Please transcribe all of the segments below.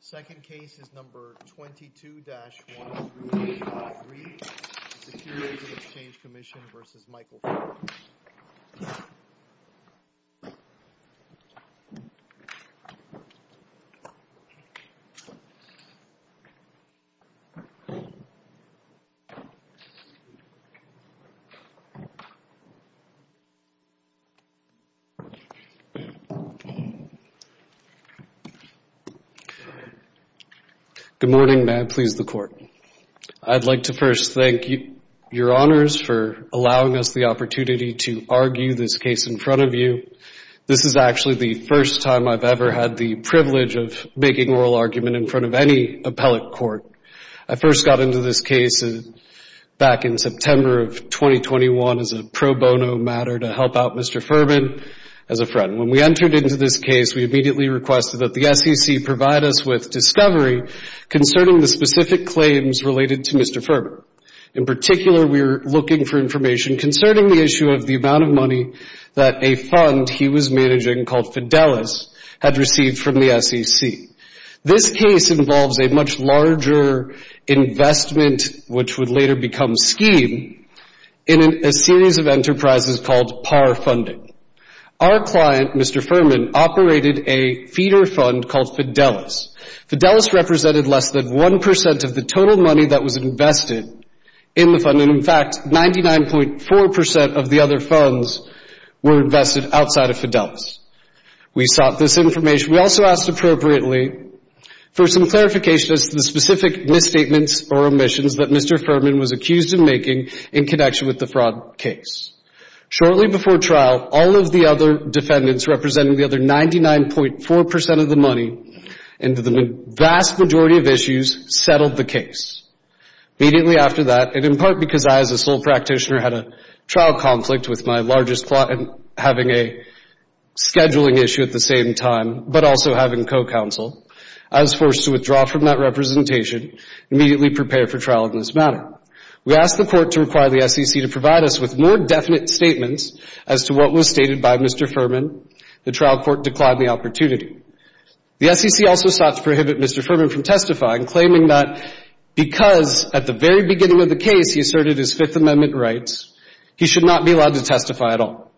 Second case is number 22-138.3, Securities and Exchange Commission v. Michael Furman. Good morning. May I please the Court? I'd like to first thank your honors for allowing us the opportunity to argue this case in front of you. This is actually the first time I've ever had the privilege of making oral argument in front of any appellate court. I first got into this case back in September of 2021 as a pro bono matter to help out Mr. Furman as a friend. When we entered into this case, we immediately requested that the SEC provide us with discovery concerning the specific claims related to Mr. Furman. In particular, we were looking for information concerning the issue of the amount of money that a fund he was managing called Fidelis had received from the SEC. This case involves a much larger investment, which would later become Scheme, in a series of enterprises called PAR Funding. Our client, Mr. Furman, operated a feeder fund called Fidelis. Fidelis represented less than 1 percent of the total money that was invested in the fund. In fact, 99.4 percent of the other funds were invested outside of Fidelis. We sought this information. We also asked appropriately for some clarification as to the specific misstatements or omissions that Mr. Furman was accused of making in connection with the fraud case. Shortly before trial, all of the other defendants representing the other 99.4 percent of the money and the vast majority of issues settled the case. Immediately after that, and in part because I as a sole practitioner had a trial conflict with my largest client having a scheduling issue at the same time, but also having co-counsel, I was forced to withdraw from that representation and immediately prepare for trial in this matter. We asked the Court to require the SEC to provide us with more definite statements as to what was stated by Mr. Furman. The trial court declined the opportunity. The SEC also sought to prohibit Mr. Furman from testifying, claiming that because at the very beginning of the case he asserted his Fifth Amendment rights, he should not be allowed to testify at all.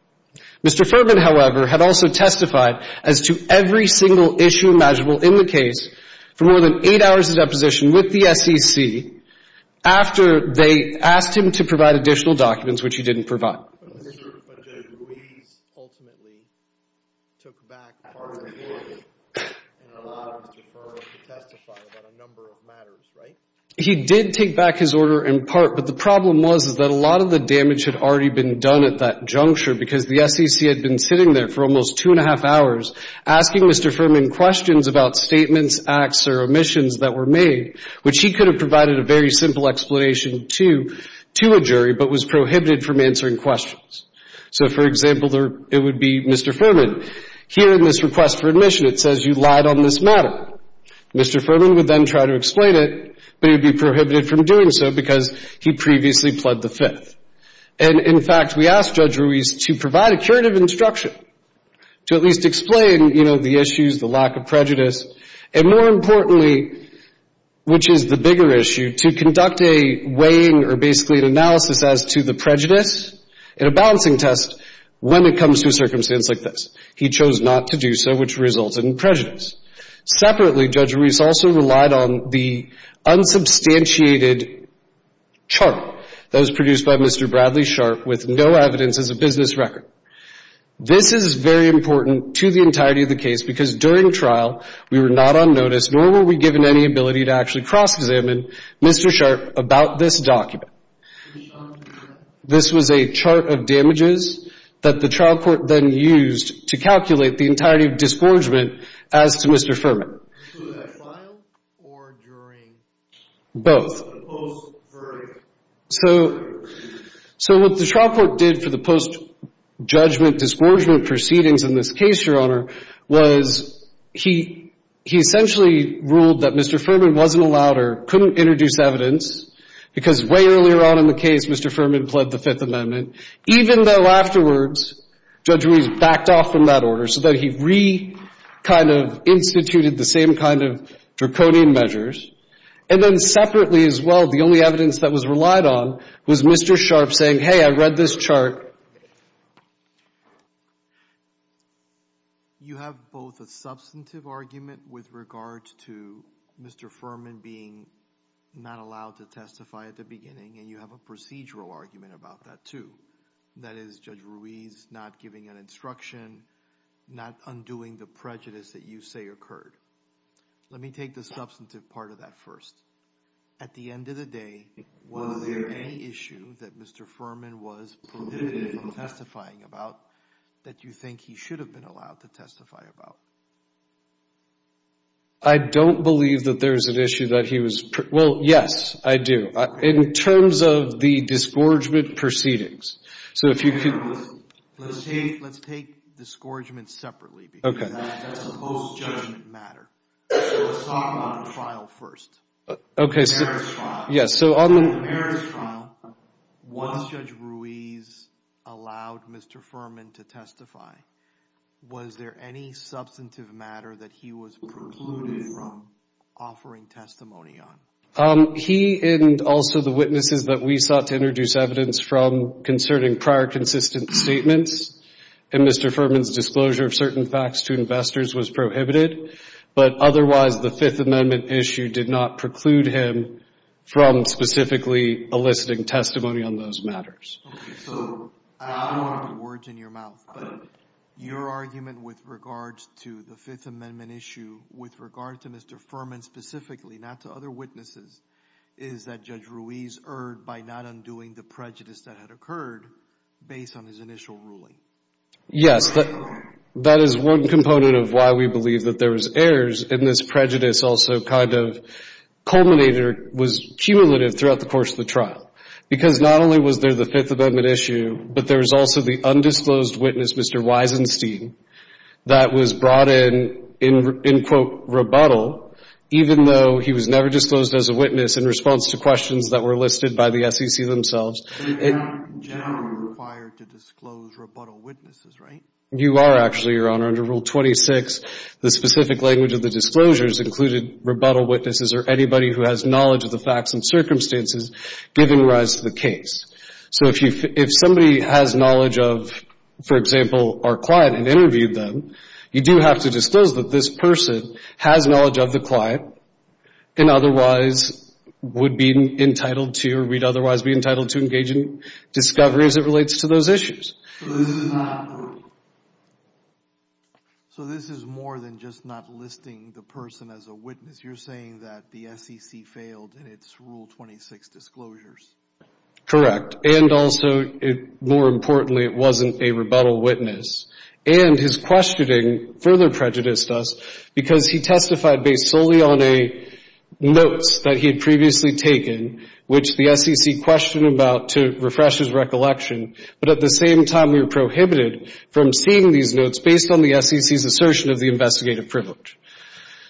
Mr. Furman, however, had also testified as to every single issue measurable in the case for more than eight hours of deposition with the SEC after they asked him to provide additional documents, which he didn't provide. But Judge Ruiz ultimately took back part of the order and allowed Mr. Furman to testify about a number of matters, right? He did take back his order in part, but the problem was that a lot of the damage had already been done at that juncture because the SEC had been sitting there for almost two and a half hours asking Mr. Furman questions about statements, acts, or omissions that were made, which he could have provided a very simple explanation to a jury, but was prohibited from answering questions. So, for example, it would be, Mr. Furman, here in this request for admission, it says you lied on this matter. Mr. Furman would then try to explain it, but he'd be prohibited from doing so because he previously pled the Fifth. And in fact, we asked Judge Ruiz to provide a curative instruction to at least explain, you know, the issues, the lack of prejudice, and more importantly, which is the bigger issue, to conduct a weighing or basically an analysis as to the prejudice in a balancing test when it comes to a circumstance like this. He chose not to do so, which resulted in prejudice. Separately, Judge Ruiz also relied on the unsubstantiated chart that was produced by Mr. Bradley Sharp with no evidence as a business record. This is very important to the entirety of the case because during trial, we were not on notice, nor were we given any ability to actually cross-examine Mr. Sharp about this document. This was a chart of damages that the trial court then used to calculate the entirety of disgorgement as to Mr. Furman. Was that while or during? Both. Or post-verdict? So, what the trial court did for the post-judgment disgorgement proceedings in this case, Your couldn't introduce evidence because way earlier on in the case, Mr. Furman pled the Fifth Amendment, even though afterwards, Judge Ruiz backed off from that order so that he re-kind of instituted the same kind of draconian measures, and then separately as well, the only evidence that was relied on was Mr. Sharp saying, hey, I read this chart. You have both a substantive argument with regard to Mr. Furman being not allowed to testify at the beginning, and you have a procedural argument about that too. That is, Judge Ruiz not giving an instruction, not undoing the prejudice that you say occurred. Let me take the substantive part of that first. At the end of the day, was there any issue that Mr. Furman was prohibited from testifying about that you think he should have been allowed to testify about? I don't believe that there was an issue that he was, well, yes, I do. In terms of the disgorgement proceedings, so if you could... Let's take disgorgement separately because that's a post-judgment matter. Let's talk about the trial first. Okay. The merits trial. When Judge Ruiz allowed Mr. Furman to testify, was there any substantive matter that he was precluded from offering testimony on? He and also the witnesses that we sought to introduce evidence from concerning prior consistent statements, and Mr. Furman's disclosure of certain facts to investors was prohibited, but otherwise the Fifth Amendment issue did not preclude him from specifically eliciting testimony on those matters. Okay. So I don't want words in your mouth, but your argument with regards to the Fifth Amendment issue with regard to Mr. Furman specifically, not to other witnesses, is that Judge Ruiz erred by not undoing the prejudice that had occurred based on his initial ruling. Yes. That is one component of why we believe that there was errors in this prejudice also kind of culminated or was cumulative throughout the course of the trial. Because not only was there the Fifth Amendment issue, but there was also the undisclosed witness, Mr. Weisenstein, that was brought in, in quote, rebuttal, even though he was never disclosed as a witness in response to questions that were listed by the SEC themselves. But you're not generally required to disclose rebuttal witnesses, right? You are actually, Your Honor. Under Rule 26, the specific language of the disclosures included rebuttal witnesses or anybody who has knowledge of the facts and circumstances given rise to the case. So if somebody has knowledge of, for example, our client and interviewed them, you do have to disclose that this person has knowledge of the client and otherwise would be entitled to or would otherwise be entitled to engage in discovery as it relates to those issues. So this is not a rule? So this is more than just not listing the person as a witness. You're saying that the SEC failed in its Rule 26 disclosures. Correct. And also, more importantly, it wasn't a rebuttal witness. And his questioning further prejudiced us because he testified based solely on notes that he had previously taken, which the SEC questioned about to refresh his recollection. But at the same time, we were prohibited from seeing these notes based on the SEC's assertion of the investigative privilege.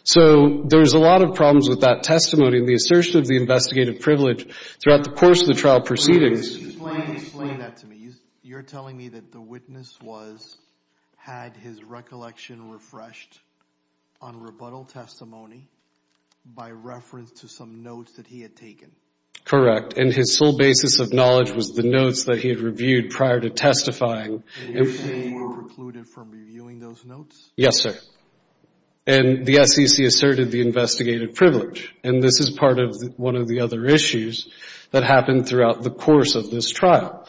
So there's a lot of problems with that testimony and the assertion of the investigative privilege throughout the course of the trial proceedings. Explain that to me. You're telling me that the witness was, had his recollection refreshed on rebuttal testimony by reference to some notes that he had taken? Correct. And his sole basis of knowledge was the notes that he had reviewed prior to testifying. And you're saying you were precluded from reviewing those notes? Yes, sir. And the SEC asserted the investigative privilege. And this is part of one of the other issues that happened throughout the course of this trial.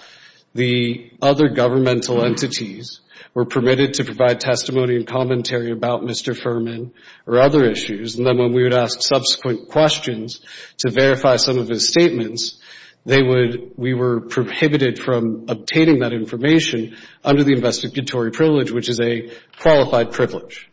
The other governmental entities were permitted to provide testimony and commentary about Mr. Fuhrman or other issues. And then when we would ask subsequent questions to verify some of his statements, we were prohibited from obtaining that information under the investigatory privilege, which is a qualified privilege.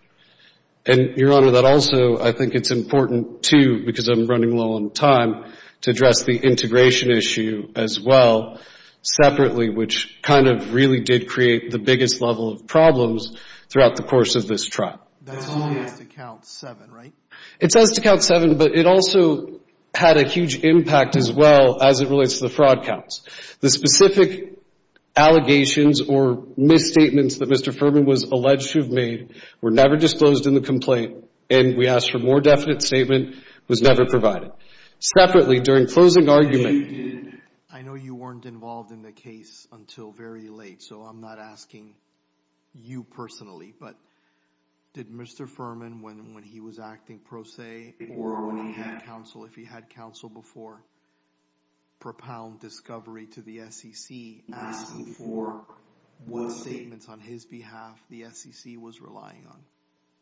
And, Your Honor, that also, I think it's important, too, because I'm running low on time, to address the integration issue as well separately, which kind of really did create the biggest level of problems throughout the course of this trial. That's only as to count seven, right? It says to count seven, but it also had a huge impact as well as it relates to the fraud counts. The specific allegations or misstatements that Mr. Fuhrman was alleged to have made were never disclosed in the complaint. And we asked for a more definite statement. It was never provided. Separately, during closing argument... I know you weren't involved in the case until very late, so I'm not asking you personally, but did Mr. Fuhrman, when he was acting pro se or when he had counsel, if he had counsel before, propound discovery to the SEC asking for what statements on his behalf the SEC was relying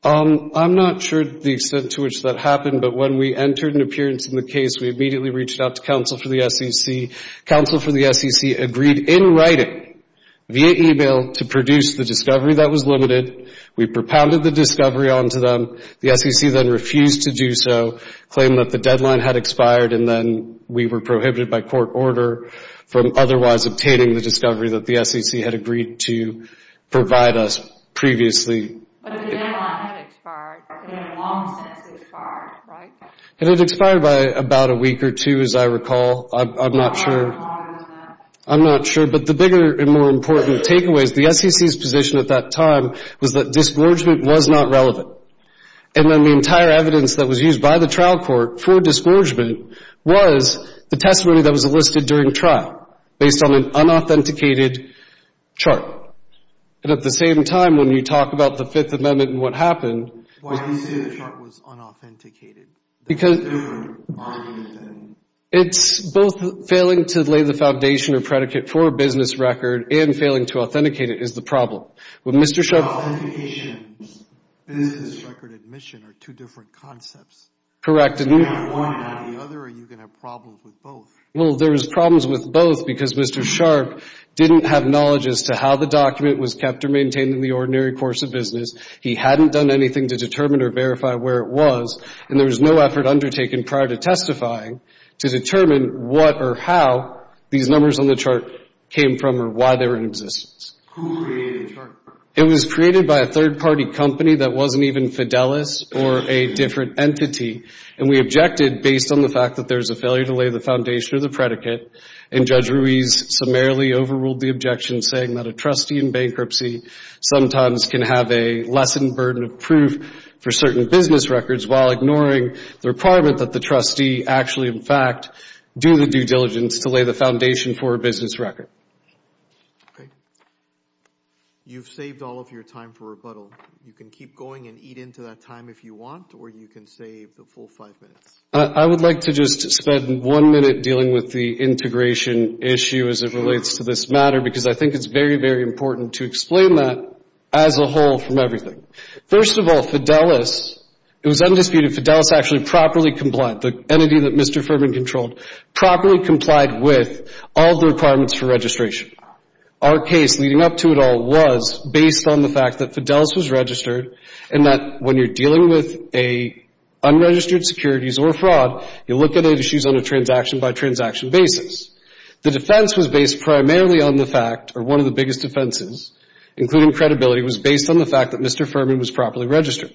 on? I'm not sure the extent to which that happened, but when we entered an appearance in the case, we immediately reached out to counsel for the SEC. Counsel for the SEC agreed in writing, via e-mail, to produce the discovery that was limited. We propounded the discovery onto them. The SEC then refused to do so, claiming that the deadline had expired and then we were prohibited by court order from otherwise obtaining the discovery that the SEC had agreed to provide us previously. But the deadline had expired. In the long sense, it expired, right? It had expired by about a week or two, as I recall. I'm not sure. How long was that? I'm not sure, but the bigger and more important takeaway is the SEC's position at that time was that disgorgement was not relevant. And then the entire evidence that was used by the trial court for disgorgement was the testimony that was enlisted during trial, based on an unauthenticated chart. And at the same time, when you talk about the Fifth Amendment and what happened... Why do you say the chart was unauthenticated? It's both failing to lay the foundation or predicate for a business record and failing to authenticate it is the problem. With Mr. Sharpe... Authentication and business record admission are two different concepts. Correct. Do you have one or the other or are you going to have problems with both? Well, there was problems with both because Mr. Sharpe didn't have knowledge as to how the document was kept or maintained in the ordinary course of business. He hadn't done anything to determine or verify where it was. And there was no effort undertaken prior to testifying to determine what or how these numbers on the chart came from or why they were in existence. Who created the chart? It was created by a third-party company that wasn't even Fidelis or a different entity. And we objected based on the fact that there's a failure to lay the foundation or the predicate. And Judge Ruiz summarily overruled the objection, saying that a trustee in bankruptcy sometimes can have a lessened burden of proof for certain business records while ignoring the requirement that the trustee actually in fact do the due diligence to lay the foundation for a business record. Okay. You've saved all of your time for rebuttal. You can keep going and eat into that time if you want or you can save the full five minutes. I would like to just spend one minute dealing with the integration issue as it relates to this matter, because I think it's very, very important to explain that as a whole from everything. First of all, Fidelis, it was undisputed Fidelis actually properly complied, the entity that Mr. Furman controlled, properly complied with all the requirements for registration. Our case leading up to it all was based on the fact that Fidelis was registered and that when you're dealing with unregistered securities or fraud, you look at issues on a transaction by transaction basis. The defense was based primarily on the fact, or one of the biggest defenses, including credibility, was based on the fact that Mr. Furman was properly registered.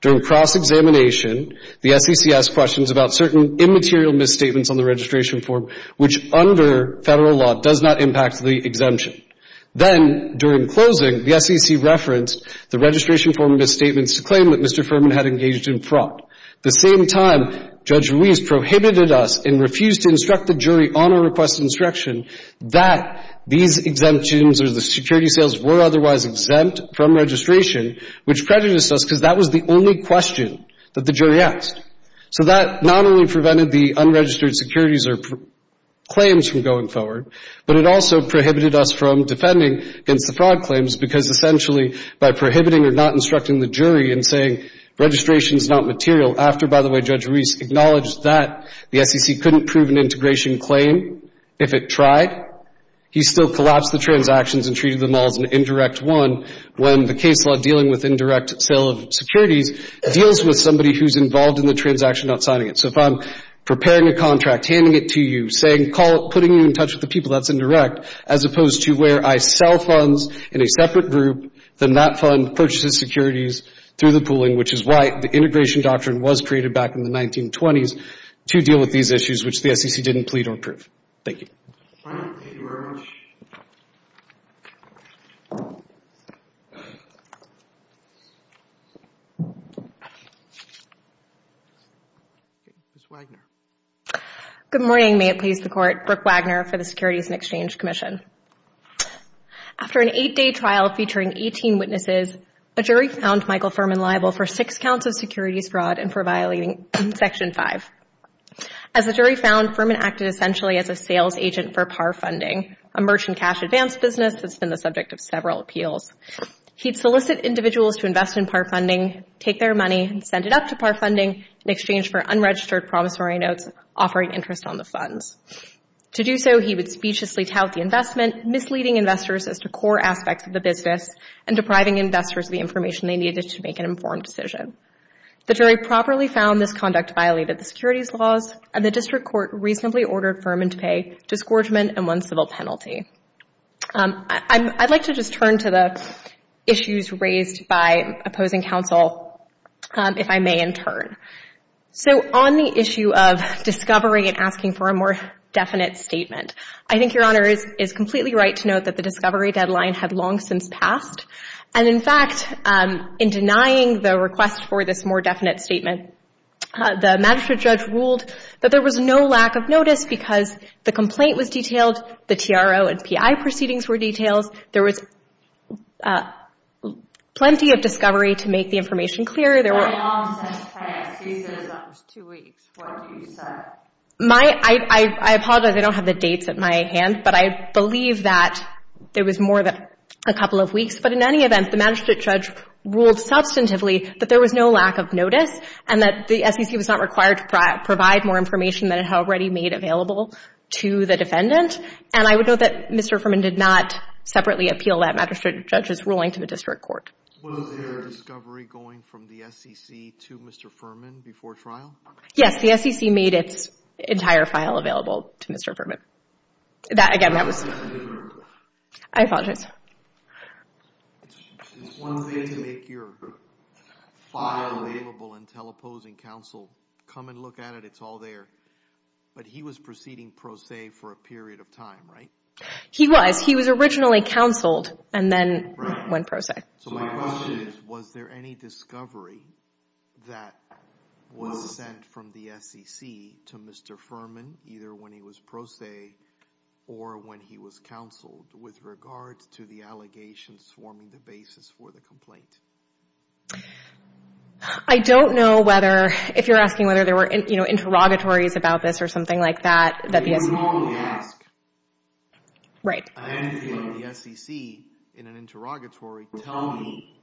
During cross-examination, the SEC asked questions about certain immaterial misstatements on the registration form, which under federal law does not impact the exemption. Then during closing, the SEC referenced the registration form misstatements to claim that Mr. Furman had engaged in fraud. The same time, Judge Ruiz prohibited us and refused to instruct the jury on a request instruction that these exemptions or the security sales were otherwise exempt from registration, which prejudiced us because that was the only question that the jury asked. So that not only prevented the unregistered securities or claims from going forward, but it also prohibited us from defending against the fraud claims because essentially by prohibiting or not instructing the jury in saying registration is not material, after, by the way, Judge Ruiz acknowledged that the SEC couldn't prove an integration claim if it tried, he still collapsed the transactions and treated them all as an indirect one when the case law dealing with indirect sale of securities deals with somebody who's involved in the transaction not signing it. So if I'm preparing a contract, handing it to you, putting you in touch with the people, that's indirect, as opposed to where I sell funds in a separate group, then that fund purchases securities through the pooling, which is why the integration doctrine was created back in the 1920s to deal with these issues, which the SEC didn't plead or prove. Thank you. All right. Thank you very much. Good morning. May it please the Court. Brooke Wagner for the Securities and Exchange Commission. After an eight-day trial featuring 18 witnesses, a jury found Michael Furman liable for six counts of securities fraud and for violating Section 5. As the jury found, Furman acted essentially as a sales agent for par funding, a merchant cash advance business that's been the subject of several appeals. He'd solicit individuals to invest in par funding, take their money and send it up to par funding in exchange for unregistered promissory notes offering interest on the funds. To do so, he would speechlessly tout the investment, misleading investors as to core aspects of the business and depriving investors of the information they needed to make an informed decision. The jury properly found this conduct violated the securities laws and the district court reasonably ordered Furman to pay disgorgement and one civil penalty. I'd like to just turn to the issues raised by opposing counsel, if I may, in turn. So on the issue of discovery and asking for a more definite statement, I think Your Honor is completely right to note that the discovery deadline had long since passed and, in fact, in denying the request for this more definite statement, the magistrate judge ruled that there was no lack of notice because the complaint was detailed, the TRO and PI proceedings were detailed, there was plenty of discovery to make the information clear. Why long since passed? He said it was almost two weeks. What do you say? I apologize. I don't have the dates at my hand, but I believe that there was more than a couple of weeks. But in any event, the magistrate judge ruled substantively that there was no lack of notice and that the SEC was not required to provide more information than it had already made available to the defendant. And I would note that Mr. Furman did not separately appeal that magistrate judge's ruling to the district court. Was there a discovery going from the SEC to Mr. Furman before trial? Yes, the SEC made its entire file available to Mr. Furman. That, again, that was... I apologize. It's one thing to make your file available and tell opposing counsel, come and look at it, it's all there, but he was proceeding pro se for a period of time, right? He was. He was originally counseled and then went pro se. So my question is, was there any discovery that was sent from the SEC to Mr. Furman either when he was pro se or when he was counseled with regards to the allegations forming the basis for the complaint? I don't know whether, if you're asking whether there were interrogatories about this or something like that, that the SEC... You can only ask. Right. And can the SEC, in an interrogatory, tell me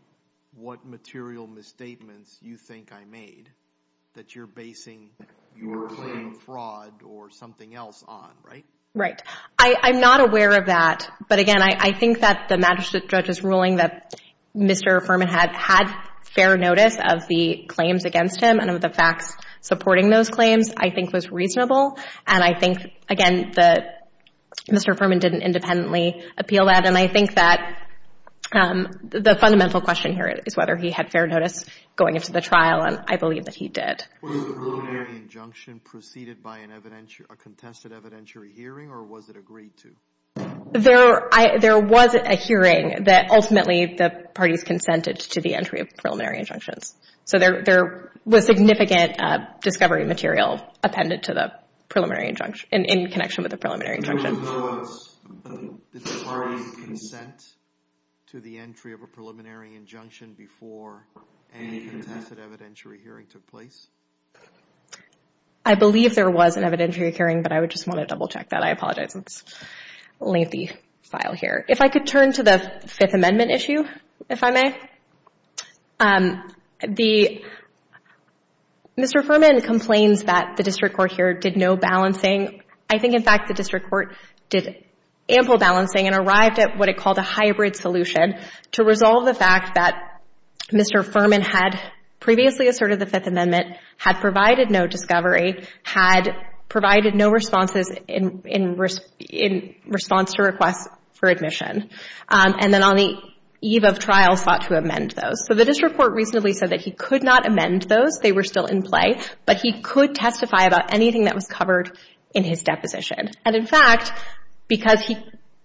what material misstatements you think I made that you're basing your claim of fraud or something else on, right? Right. I'm not aware of that, but again, I think that the magistrate judge's ruling that Mr. Furman had had fair notice of the claims against him and of the facts supporting those claims, I think, was reasonable, and I think, again, that Mr. Furman didn't independently appeal that. And I think that the fundamental question here is whether he had fair notice going into the trial, and I believe that he did. Was the preliminary injunction preceded by a contested evidentiary hearing or was it agreed to? There was a hearing that ultimately the parties consented to the entry of preliminary injunctions. So there was significant discovery material appended to the preliminary injunction, in connection with the preliminary injunction. So there was the parties' consent to the entry of a preliminary injunction before any contested evidentiary hearing took place? I believe there was an evidentiary hearing, but I would just want to double-check that. I apologize. It's a lengthy file here. If I could turn to the Fifth Amendment issue, if I may. Mr. Furman complains that the district court here did no balancing. I think, in fact, the district court did ample balancing and arrived at what it called a hybrid solution to resolve the fact that Mr. Furman had previously asserted the Fifth Amendment, had provided no discovery, had provided no responses in response to requests for admission, and then on the eve of trial sought to amend those. So the district court reasonably said that he could not amend those. They were still in play, but he could testify about anything that was covered in his deposition. And, in fact, because he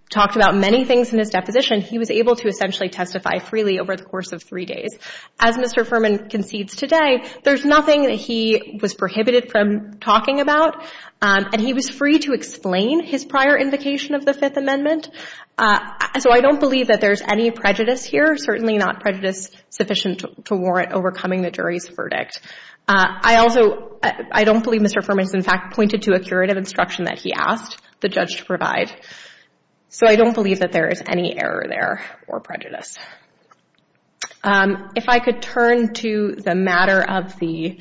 talked about many things in his deposition, he was able to essentially testify freely over the course of three days. As Mr. Furman concedes today, there's nothing that he was prohibited from talking about, and he was free to explain his prior invocation of the Fifth Amendment. So I don't believe that there's any prejudice here, certainly not prejudice sufficient to warrant overcoming the jury's verdict. I also don't believe Mr. Furman has, in fact, pointed to a curative instruction that he asked the judge to provide. So I don't believe that there is any error there or prejudice. If I could turn to the matter of the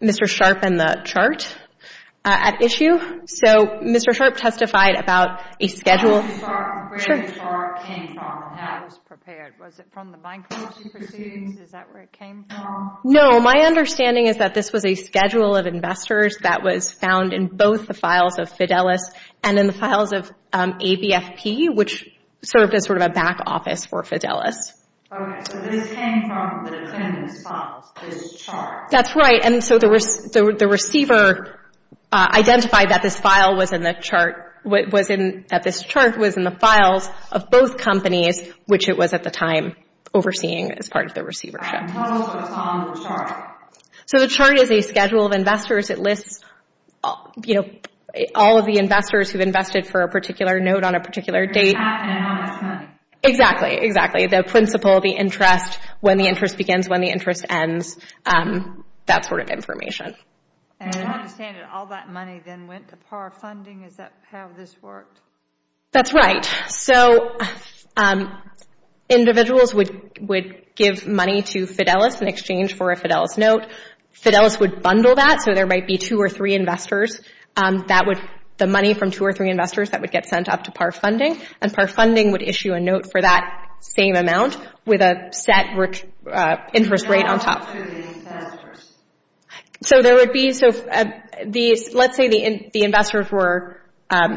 Mr. Sharpe and the chart at issue. So Mr. Sharpe testified about a schedule. Where did the chart come from and how it was prepared? Was it from the bankruptcy proceedings? Is that where it came from? No. My understanding is that this was a schedule of investors that was found in both the files of Fidelis and in the files of ABFP, which served as sort of a back office for Fidelis. Okay. So this came from the defendant's files, this chart. That's right. And so the receiver identified that this file was in the chart, that this chart was in the files of both companies, which it was at the time overseeing as part of the receivership. Tell us what's on the chart. So the chart is a schedule of investors. It lists, you know, all of the investors who've invested for a particular note on a particular date. Exactly, exactly. The principle, the interest, when the interest begins, when the interest ends, that sort of information. And I understand that all that money then went to PAR funding. Is that how this worked? That's right. So individuals would give money to Fidelis in exchange for a Fidelis note. Fidelis would bundle that, so there might be two or three investors. That would, the money from two or three investors, that would get sent up to PAR funding. And PAR funding would issue a note for that same amount with a set interest rate on top. So there would be, so let's say the investors were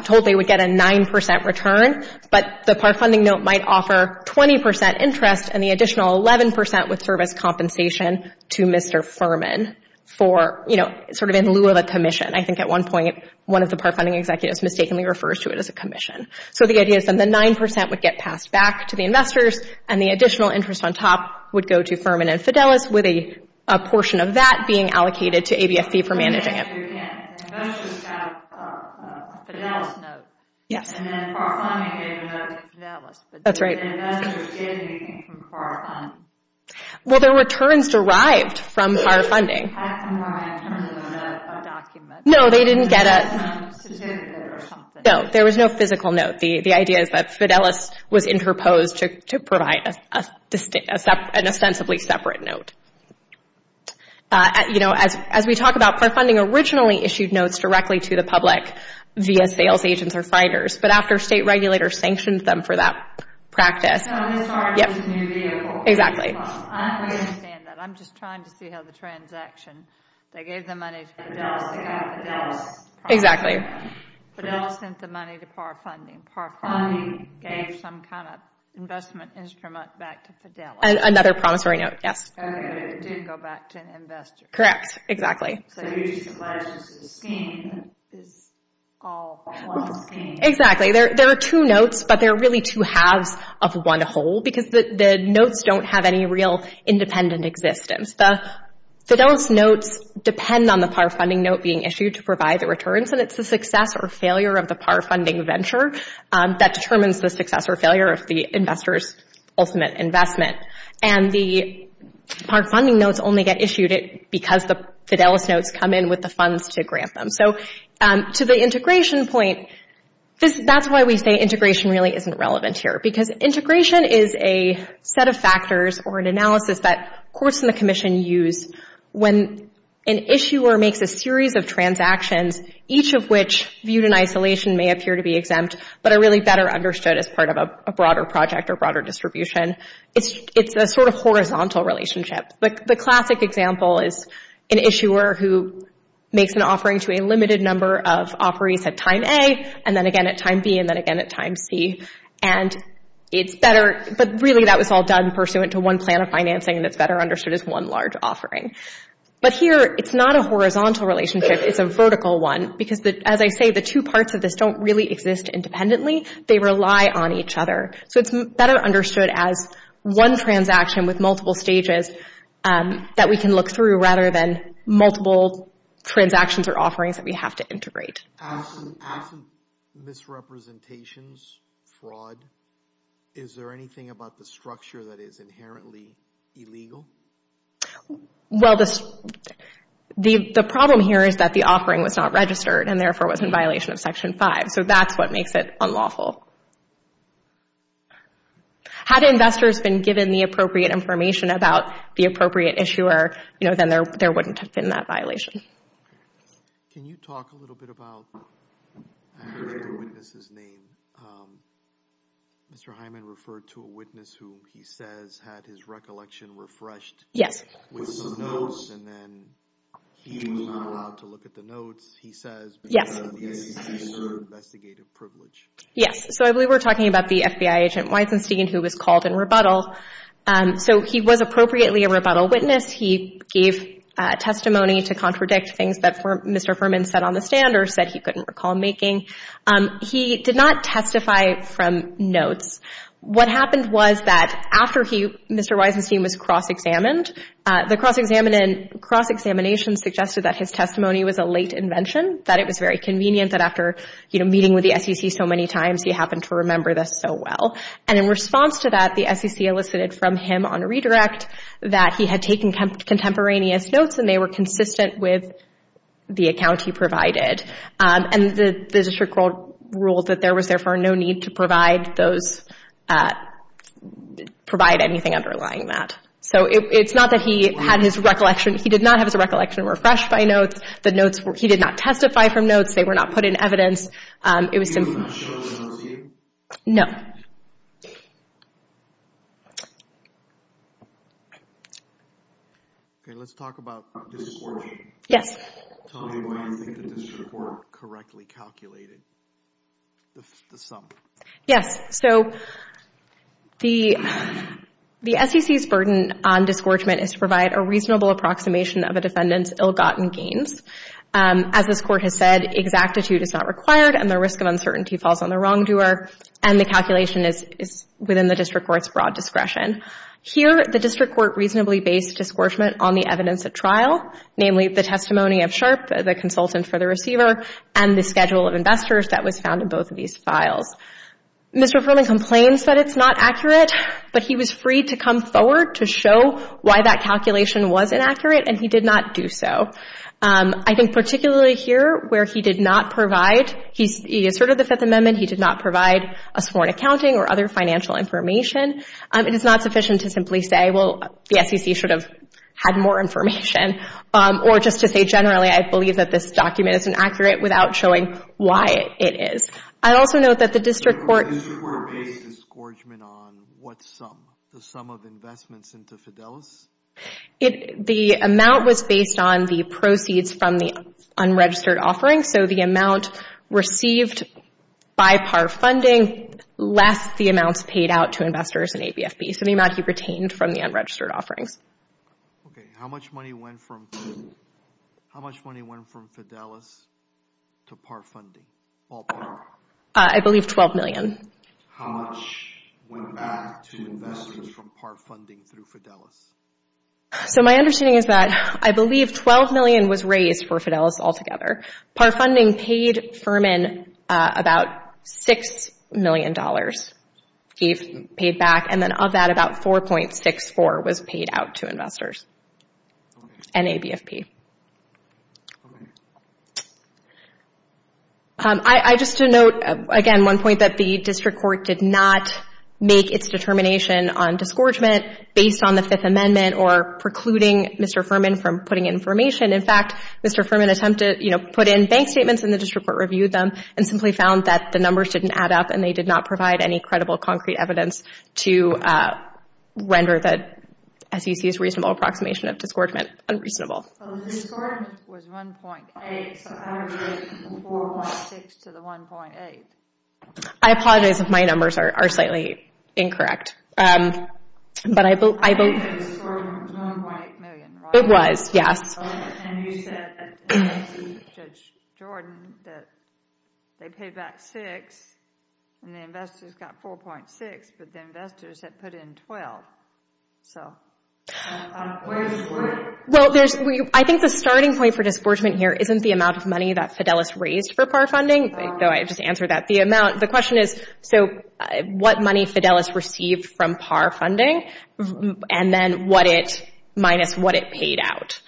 told they would get a 9% return, but the PAR funding note might offer 20% interest and the additional 11% would serve as compensation to Mr. Fuhrman for, you know, sort of in lieu of a commission. I think at one point, one of the PAR funding executives mistakenly refers to it as a commission. So the idea is then the 9% would get passed back to the investors and the additional interest on top would go to Fuhrman and Fidelis with a portion of that being allocated to ABFP for managing it. You can't. Investors have a Fidelis note. Yes. And then PAR funding gave a note to Fidelis. That's right. But the investors didn't get anything from PAR funding. Well, there were returns derived from PAR funding. They didn't pass them around in a document. No, they didn't get a certificate or something. No, there was no physical note. The idea is that Fidelis was interposed to provide an ostensibly separate note. You know, as we talk about, PAR funding originally issued notes directly to the public via sales agents or finders, but after state regulators sanctioned them for that practice. So it was part of the new vehicle. Exactly. I understand that. I'm just trying to see how the transaction, they gave the money to Fidelis, they got Fidelis. Exactly. Fidelis sent the money to PAR funding. PAR funding gave some kind of investment instrument back to Fidelis. Another promissory note, yes. Okay, but it did go back to an investor. Correct. Exactly. So you're just alleging that the scheme is all one scheme. Exactly. There are two notes, but they're really two halves of one whole, because the notes don't have any real independent existence. The Fidelis notes depend on the PAR funding note being issued to provide the returns, and it's the success or failure of the PAR funding venture that determines the success or failure of the investor's ultimate investment. And the PAR funding notes only get issued because the Fidelis notes come in with the funds to grant them. So to the integration point, that's why we say integration really isn't relevant here, because integration is a set of factors or an analysis that courts in the Commission use when an issuer makes a series of transactions, each of which viewed in isolation may appear to be exempt, but are really better understood as part of a broader project or broader distribution. It's a sort of horizontal relationship. The classic example is an issuer who makes an offering to a limited number of offerees at time A, and then again at time B, and then again at time C. But really, that was all done pursuant to one plan of financing, and it's better understood as one large offering. But here, it's not a horizontal relationship. It's a vertical one, because as I say, the two parts of this don't really exist independently. They rely on each other. So it's better understood as one transaction with multiple stages that we can look through rather than multiple transactions or offerings that we have to integrate. As some misrepresentations, fraud, is there anything about the structure that is inherently illegal? Well, the problem here is that the offering was not registered, and therefore was in violation of Section 5. So that's what makes it unlawful. Had investors been given the appropriate information about the appropriate issuer, then there wouldn't have been that violation. Can you talk a little bit about the witness's name? Mr. Hyman referred to a witness who he says had his recollection refreshed with some notes, and then he was not allowed to look at the notes. He says because of his investigative privilege. Yes, so I believe we're talking about the FBI agent Weizenstein, who was called in rebuttal. So he was appropriately a rebuttal witness. He gave testimony to contradict things that Mr. Furman said on the stand or said he couldn't recall making. He did not testify from notes. What happened was that after Mr. Weizenstein was cross-examined, the cross-examination suggested that his testimony was a late invention, that it was very convenient, that after meeting with the SEC so many times, he happened to remember this so well. And in response to that, the SEC elicited from him on redirect that he had taken contemporaneous notes, and they were consistent with the account he provided. And the district ruled that there was therefore no need to provide those, provide anything underlying that. So it's not that he had his recollection. He did not have his recollection refreshed by notes. He did not testify from notes. They were not put in evidence. He did not show those notes to you? No. Okay, let's talk about disgorgement. Yes. Tell me why you think the district court correctly calculated the sum. Yes. So the SEC's burden on disgorgement is to provide a reasonable approximation of a defendant's ill-gotten gains. As this Court has said, exactitude is not required, and the risk of uncertainty falls on the wrongdoer, and the calculation is within the district court's broad discretion. Here, the district court reasonably based disgorgement on the evidence at trial, namely the testimony of Sharp, the consultant for the receiver, and the schedule of investors that was found in both of these files. Mr. Furman complains that it's not accurate, but he was free to come forward to show why that calculation was inaccurate, and he did not do so. I think particularly here, where he did not provide, he asserted the Fifth Amendment, he did not provide a sworn accounting or other financial information. It is not sufficient to simply say, well, the SEC should have had more information, or just to say generally I believe that this document is inaccurate without showing why it is. I also note that the district court... The district court based disgorgement on what sum? The sum of investments into Fidelis? The amount was based on the proceeds from the unregistered offering, so the amount received by par funding less the amounts paid out to investors in ABFB, so the amount he retained from the unregistered offerings. Okay, how much money went from Fidelis to par funding, all par? I believe $12 million. How much went back to investors from par funding through Fidelis? So my understanding is that, I believe $12 million was raised for Fidelis altogether. Par funding paid Furman about $6 million paid back, and then of that about $4.64 was paid out to investors in ABFP. Just to note, again, one point that the district court did not make its determination on disgorgement based on the Fifth Amendment or precluding Mr. Furman from putting information. In fact, Mr. Furman attempted to put in bank statements and the district court reviewed them and simply found that the numbers didn't add up and they did not provide any credible concrete evidence to render the SEC's reasonable approximation of disgorgement unreasonable. The disgorgement was 1.8, so I would get 4.6 to the 1.8. I apologize if my numbers are slightly incorrect, but I believe... It was 1.8 million, right? It was, yes. And you said that Judge Jordan, that they paid back 6 and the investors got 4.6, but the investors had put in 12. So, where does it work? Well, I think the starting point for disgorgement here isn't the amount of money that Fidelis raised for par funding, though I just answered that the amount. The question is, so, what money Fidelis received from par funding and then what it, minus what it paid out.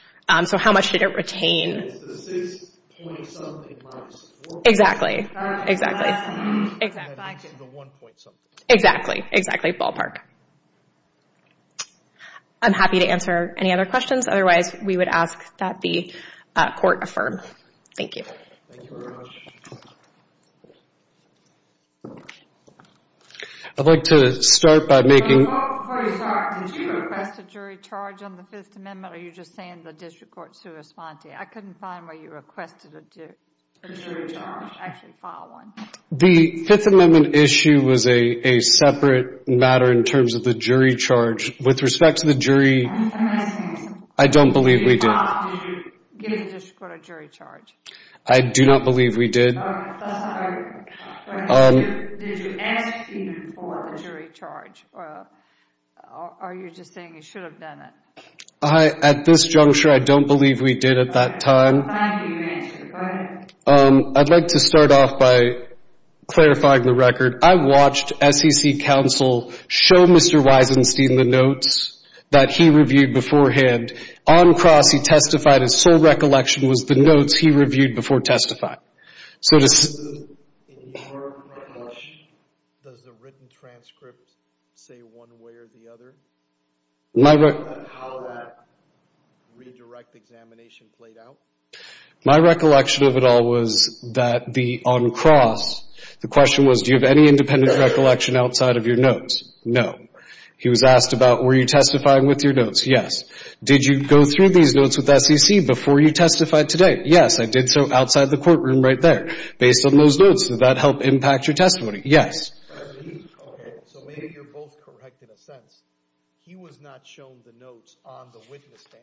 So, how much did it retain? It's the 6 point something minus 4 point something. Exactly, exactly. Back to the 1 point something. Exactly, exactly, ballpark. I'm happy to answer any other questions. Otherwise, we would ask that the court affirm. Thank you. Thank you very much. I'd like to start by making... Before you start, did you request a jury charge on the 5th Amendment or are you just saying the district court sua sponte? I couldn't find where you requested a jury charge. Actually, file one. The 5th Amendment issue was a separate matter in terms of the jury charge. With respect to the jury, I don't believe we did. Did you give the district court a jury charge? I do not believe we did. Did you ask even for a jury charge or are you just saying you should have done it? At this juncture, I don't believe we did at that time. I'm happy to answer. Go ahead. I'd like to start off by clarifying the record. I watched SEC counsel show Mr. Weisenstein the notes that he reviewed beforehand. On cross, he testified his sole recollection was the notes he reviewed before testifying. In your approach, does the written transcript say one way or the other? How that redirect examination played out? My recollection of it all was that on cross, the question was, do you have any independent recollection outside of your notes? No. He was asked about, were you testifying with your notes? Yes. Did you go through these notes with SEC before you testified today? Yes, I did so outside the courtroom right there, based on those notes. Did that help impact your testimony? Yes. So maybe you're both correct in a sense. He was not shown the notes on the witness stand.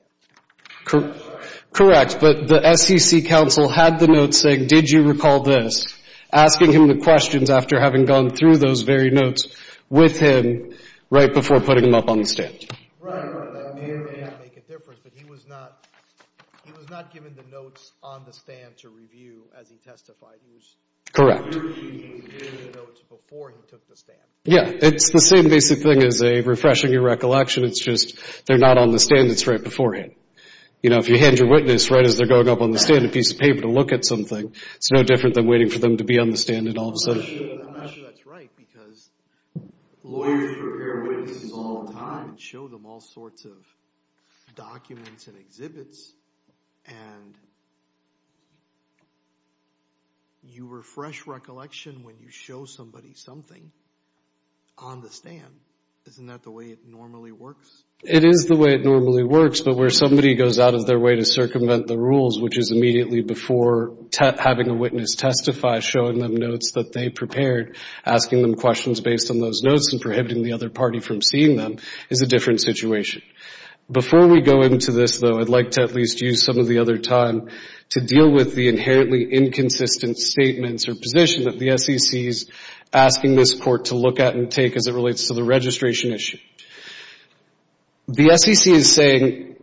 Correct, but the SEC counsel had the notes saying, did you recall this? Asking him the questions after having gone through those very notes with him right before putting them up on the stand. Right, that may or may not make a difference, but he was not he was not given the notes on the stand to review as he testified. Correct. He was reviewing the notes before he took the stand. Yeah, it's the same basic thing as refreshing your recollection. It's just they're not on the stand, it's right beforehand. You know, if you hand your witness right as they're going up on the stand, a piece of paper to look at something, it's no different than waiting for them to be on the stand all of a sudden. I'm not sure that's right because lawyers prepare witnesses all the time. You can show them all sorts of documents and exhibits and you refresh recollection when you show somebody something on the stand. Isn't that the way it normally works? It is the way it normally works, but where somebody goes out of their way to circumvent the rules, which is immediately before having a witness testify, showing them notes that they prepared, asking them questions based on those notes, and prohibiting the other party from seeing them is a different situation. Before we go into this, though, I'd like to at least use some of the other time to deal with the inherently inconsistent statements or position that the SEC is asking this Court to look at and take as it relates to the registration issue. The SEC is saying,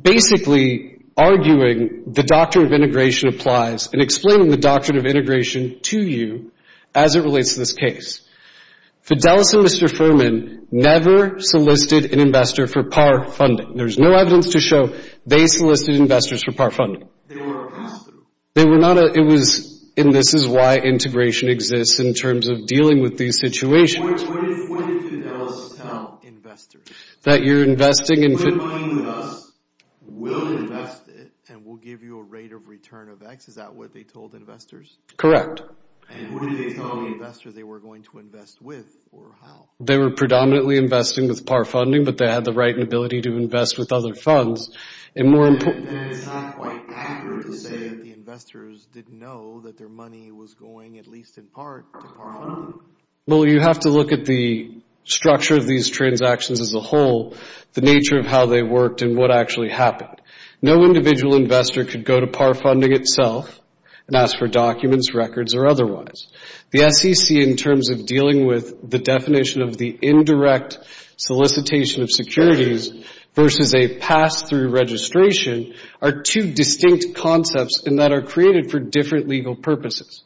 basically arguing the doctrine of integration applies and explaining the doctrine of integration to you as it relates to this case. Fidelis and Mr. Fuhrman never solicited an investor for par funding. There's no evidence to show they solicited investors for par funding. They were a pass-through. It was, and this is why integration exists in terms of dealing with these situations. What did Fidelis tell investors? That you're investing in Fidelis. We're going with us, we'll invest it, and we'll give you a rate of return of X. Is that what they told investors? Correct. And who did they tell investors they were going to invest with or how? They were predominantly investing with par funding, but they had the right and ability to invest with other funds. And it's not quite accurate to say that the investors didn't know that their money was going, at least in part, to par funding. Well, you have to look at the structure of these transactions as a whole, the nature of how they worked, and what actually happened. No individual investor could go to par funding itself and ask for documents, records, or otherwise. The SEC, in terms of dealing with the definition of the indirect solicitation of securities versus a pass-through registration, are two distinct concepts and that are created for different legal purposes.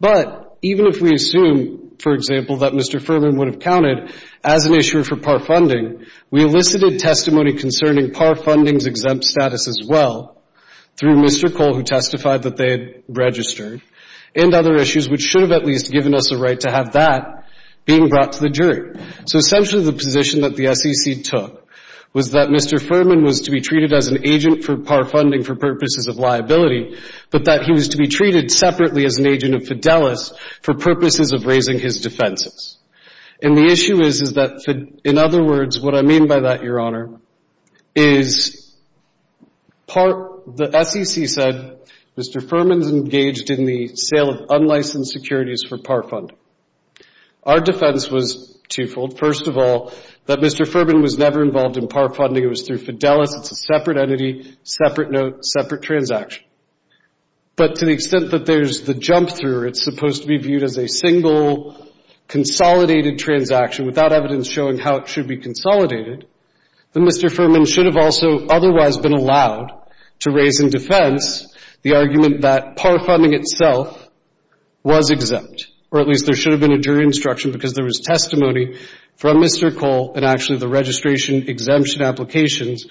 But even if we assume, for example, that Mr. Furman would have counted as an issuer for par funding, we elicited testimony concerning par funding's exempt status as well through Mr. Cole, who testified that they had registered, and other issues which should have at least given us a right to have that being brought to the jury. So essentially the position that the SEC took was that Mr. Furman was to be treated as an agent for par funding for purposes of liability, but that he was to be treated separately as an agent of Fidelis for purposes of raising his defenses. And the issue is that, in other words, what I mean by that, Your Honor, is the SEC said Mr. Furman's engaged in the sale of unlicensed securities for par funding. Our defense was twofold. First of all, that Mr. Furman was never involved in par funding. It was through Fidelis. It's a separate entity, separate note, separate transaction. But to the extent that there's the jump-through, it's supposed to be viewed as a single consolidated transaction without evidence showing how it should be consolidated, then Mr. Furman should have also otherwise been allowed to raise in defense the argument that par funding itself was exempt. Or at least there should have been a jury instruction because there was testimony from Mr. Cole, and actually the registration exemption applications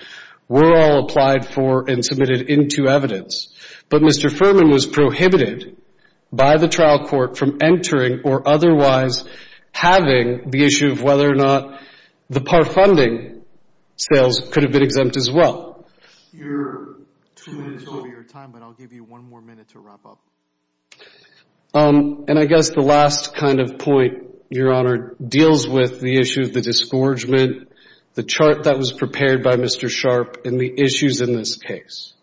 were all applied for and submitted into evidence. But Mr. Furman was prohibited by the trial court from entering or otherwise having the issue of whether or not the par funding sales could have been exempt as well. You're two minutes over your time, but I'll give you one more minute to wrap up. And I guess the last kind of point, Your Honor, deals with the issue of the disgorgement, the chart that was prepared by Mr. Sharp, and the issues in this case.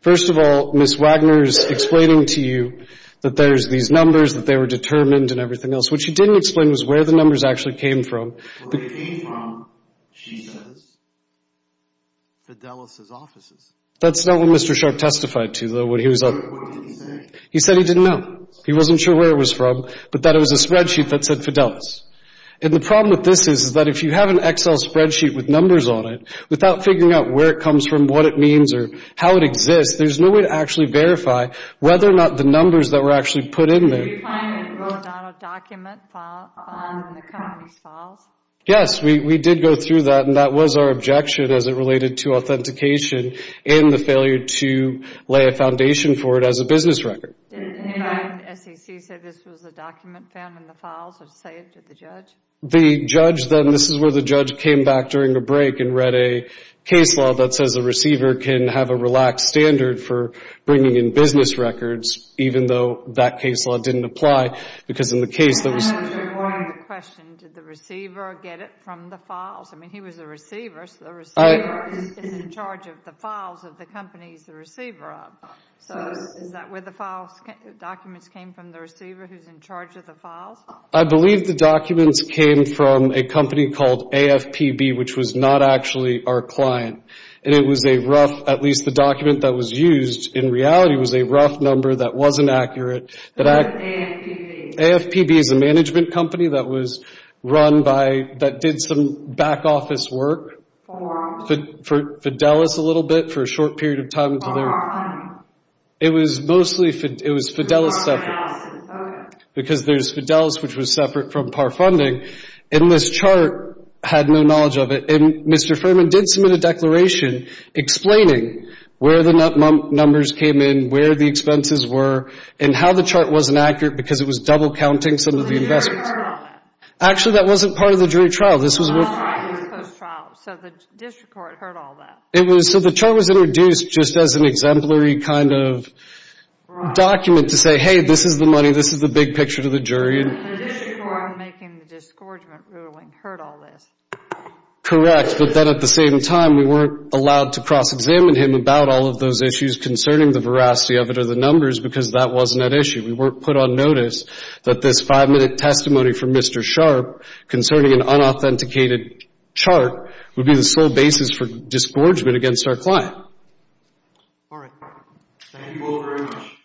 First of all, Ms. Wagner's explaining to you that there's these numbers, that they were determined and everything else. What she didn't explain was where the numbers actually came from. Where they came from, she says, Fidelis' offices. That's not what Mr. Sharp testified to, though, when he was up there. What did he say? He said he didn't know. He wasn't sure where it was from, but that it was a spreadsheet that said Fidelis. And the problem with this is that if you have an Excel spreadsheet with numbers on it, without figuring out where it comes from, what it means, or how it exists, there's no way to actually verify whether or not the numbers that were actually put in there Did you find that it was not a document found in the company's files? Yes, we did go through that, and that was our objection as it related to authentication and the failure to lay a foundation for it as a business record. Didn't the Nevada SEC say this was a document found in the files or saved to the judge? The judge, then, this is where the judge came back during a break and read a case law that says a receiver can have a relaxed standard for bringing in business records, even though that case law didn't apply, because in the case that was... Can I ask you one question? Did the receiver get it from the files? I mean, he was a receiver, so the receiver is in charge of the files of the companies the receiver of. So is that where the documents came from, the receiver who's in charge of the files? I believe the documents came from a company called AFPB, which was not actually our client. And it was a rough, at least the document that was used, in reality, was a rough number that wasn't accurate. AFPB is a management company that was run by... that did some back office work for Fidelis a little bit for a short period of time. It was mostly Fidelis, because there's Fidelis, which was separate from PAR funding. And this chart had no knowledge of it, and Mr. Furman did submit a declaration explaining where the numbers came in, where the expenses were, and how the chart wasn't accurate because it was double-counting some of the investments. Actually, that wasn't part of the jury trial. So the district court heard all that. So the chart was introduced just as an exemplary kind of document to say, hey, this is the money, this is the big picture to the jury. The district court making the disgorgement ruling heard all this. Correct, but then at the same time, we weren't allowed to cross-examine him about all of those issues concerning the veracity of it or the numbers, because that wasn't at issue. We weren't put on notice that this five-minute testimony from Mr. Sharp concerning an unauthenticated chart would be the sole basis for disgorgement against our client. All right. Thank you all very much.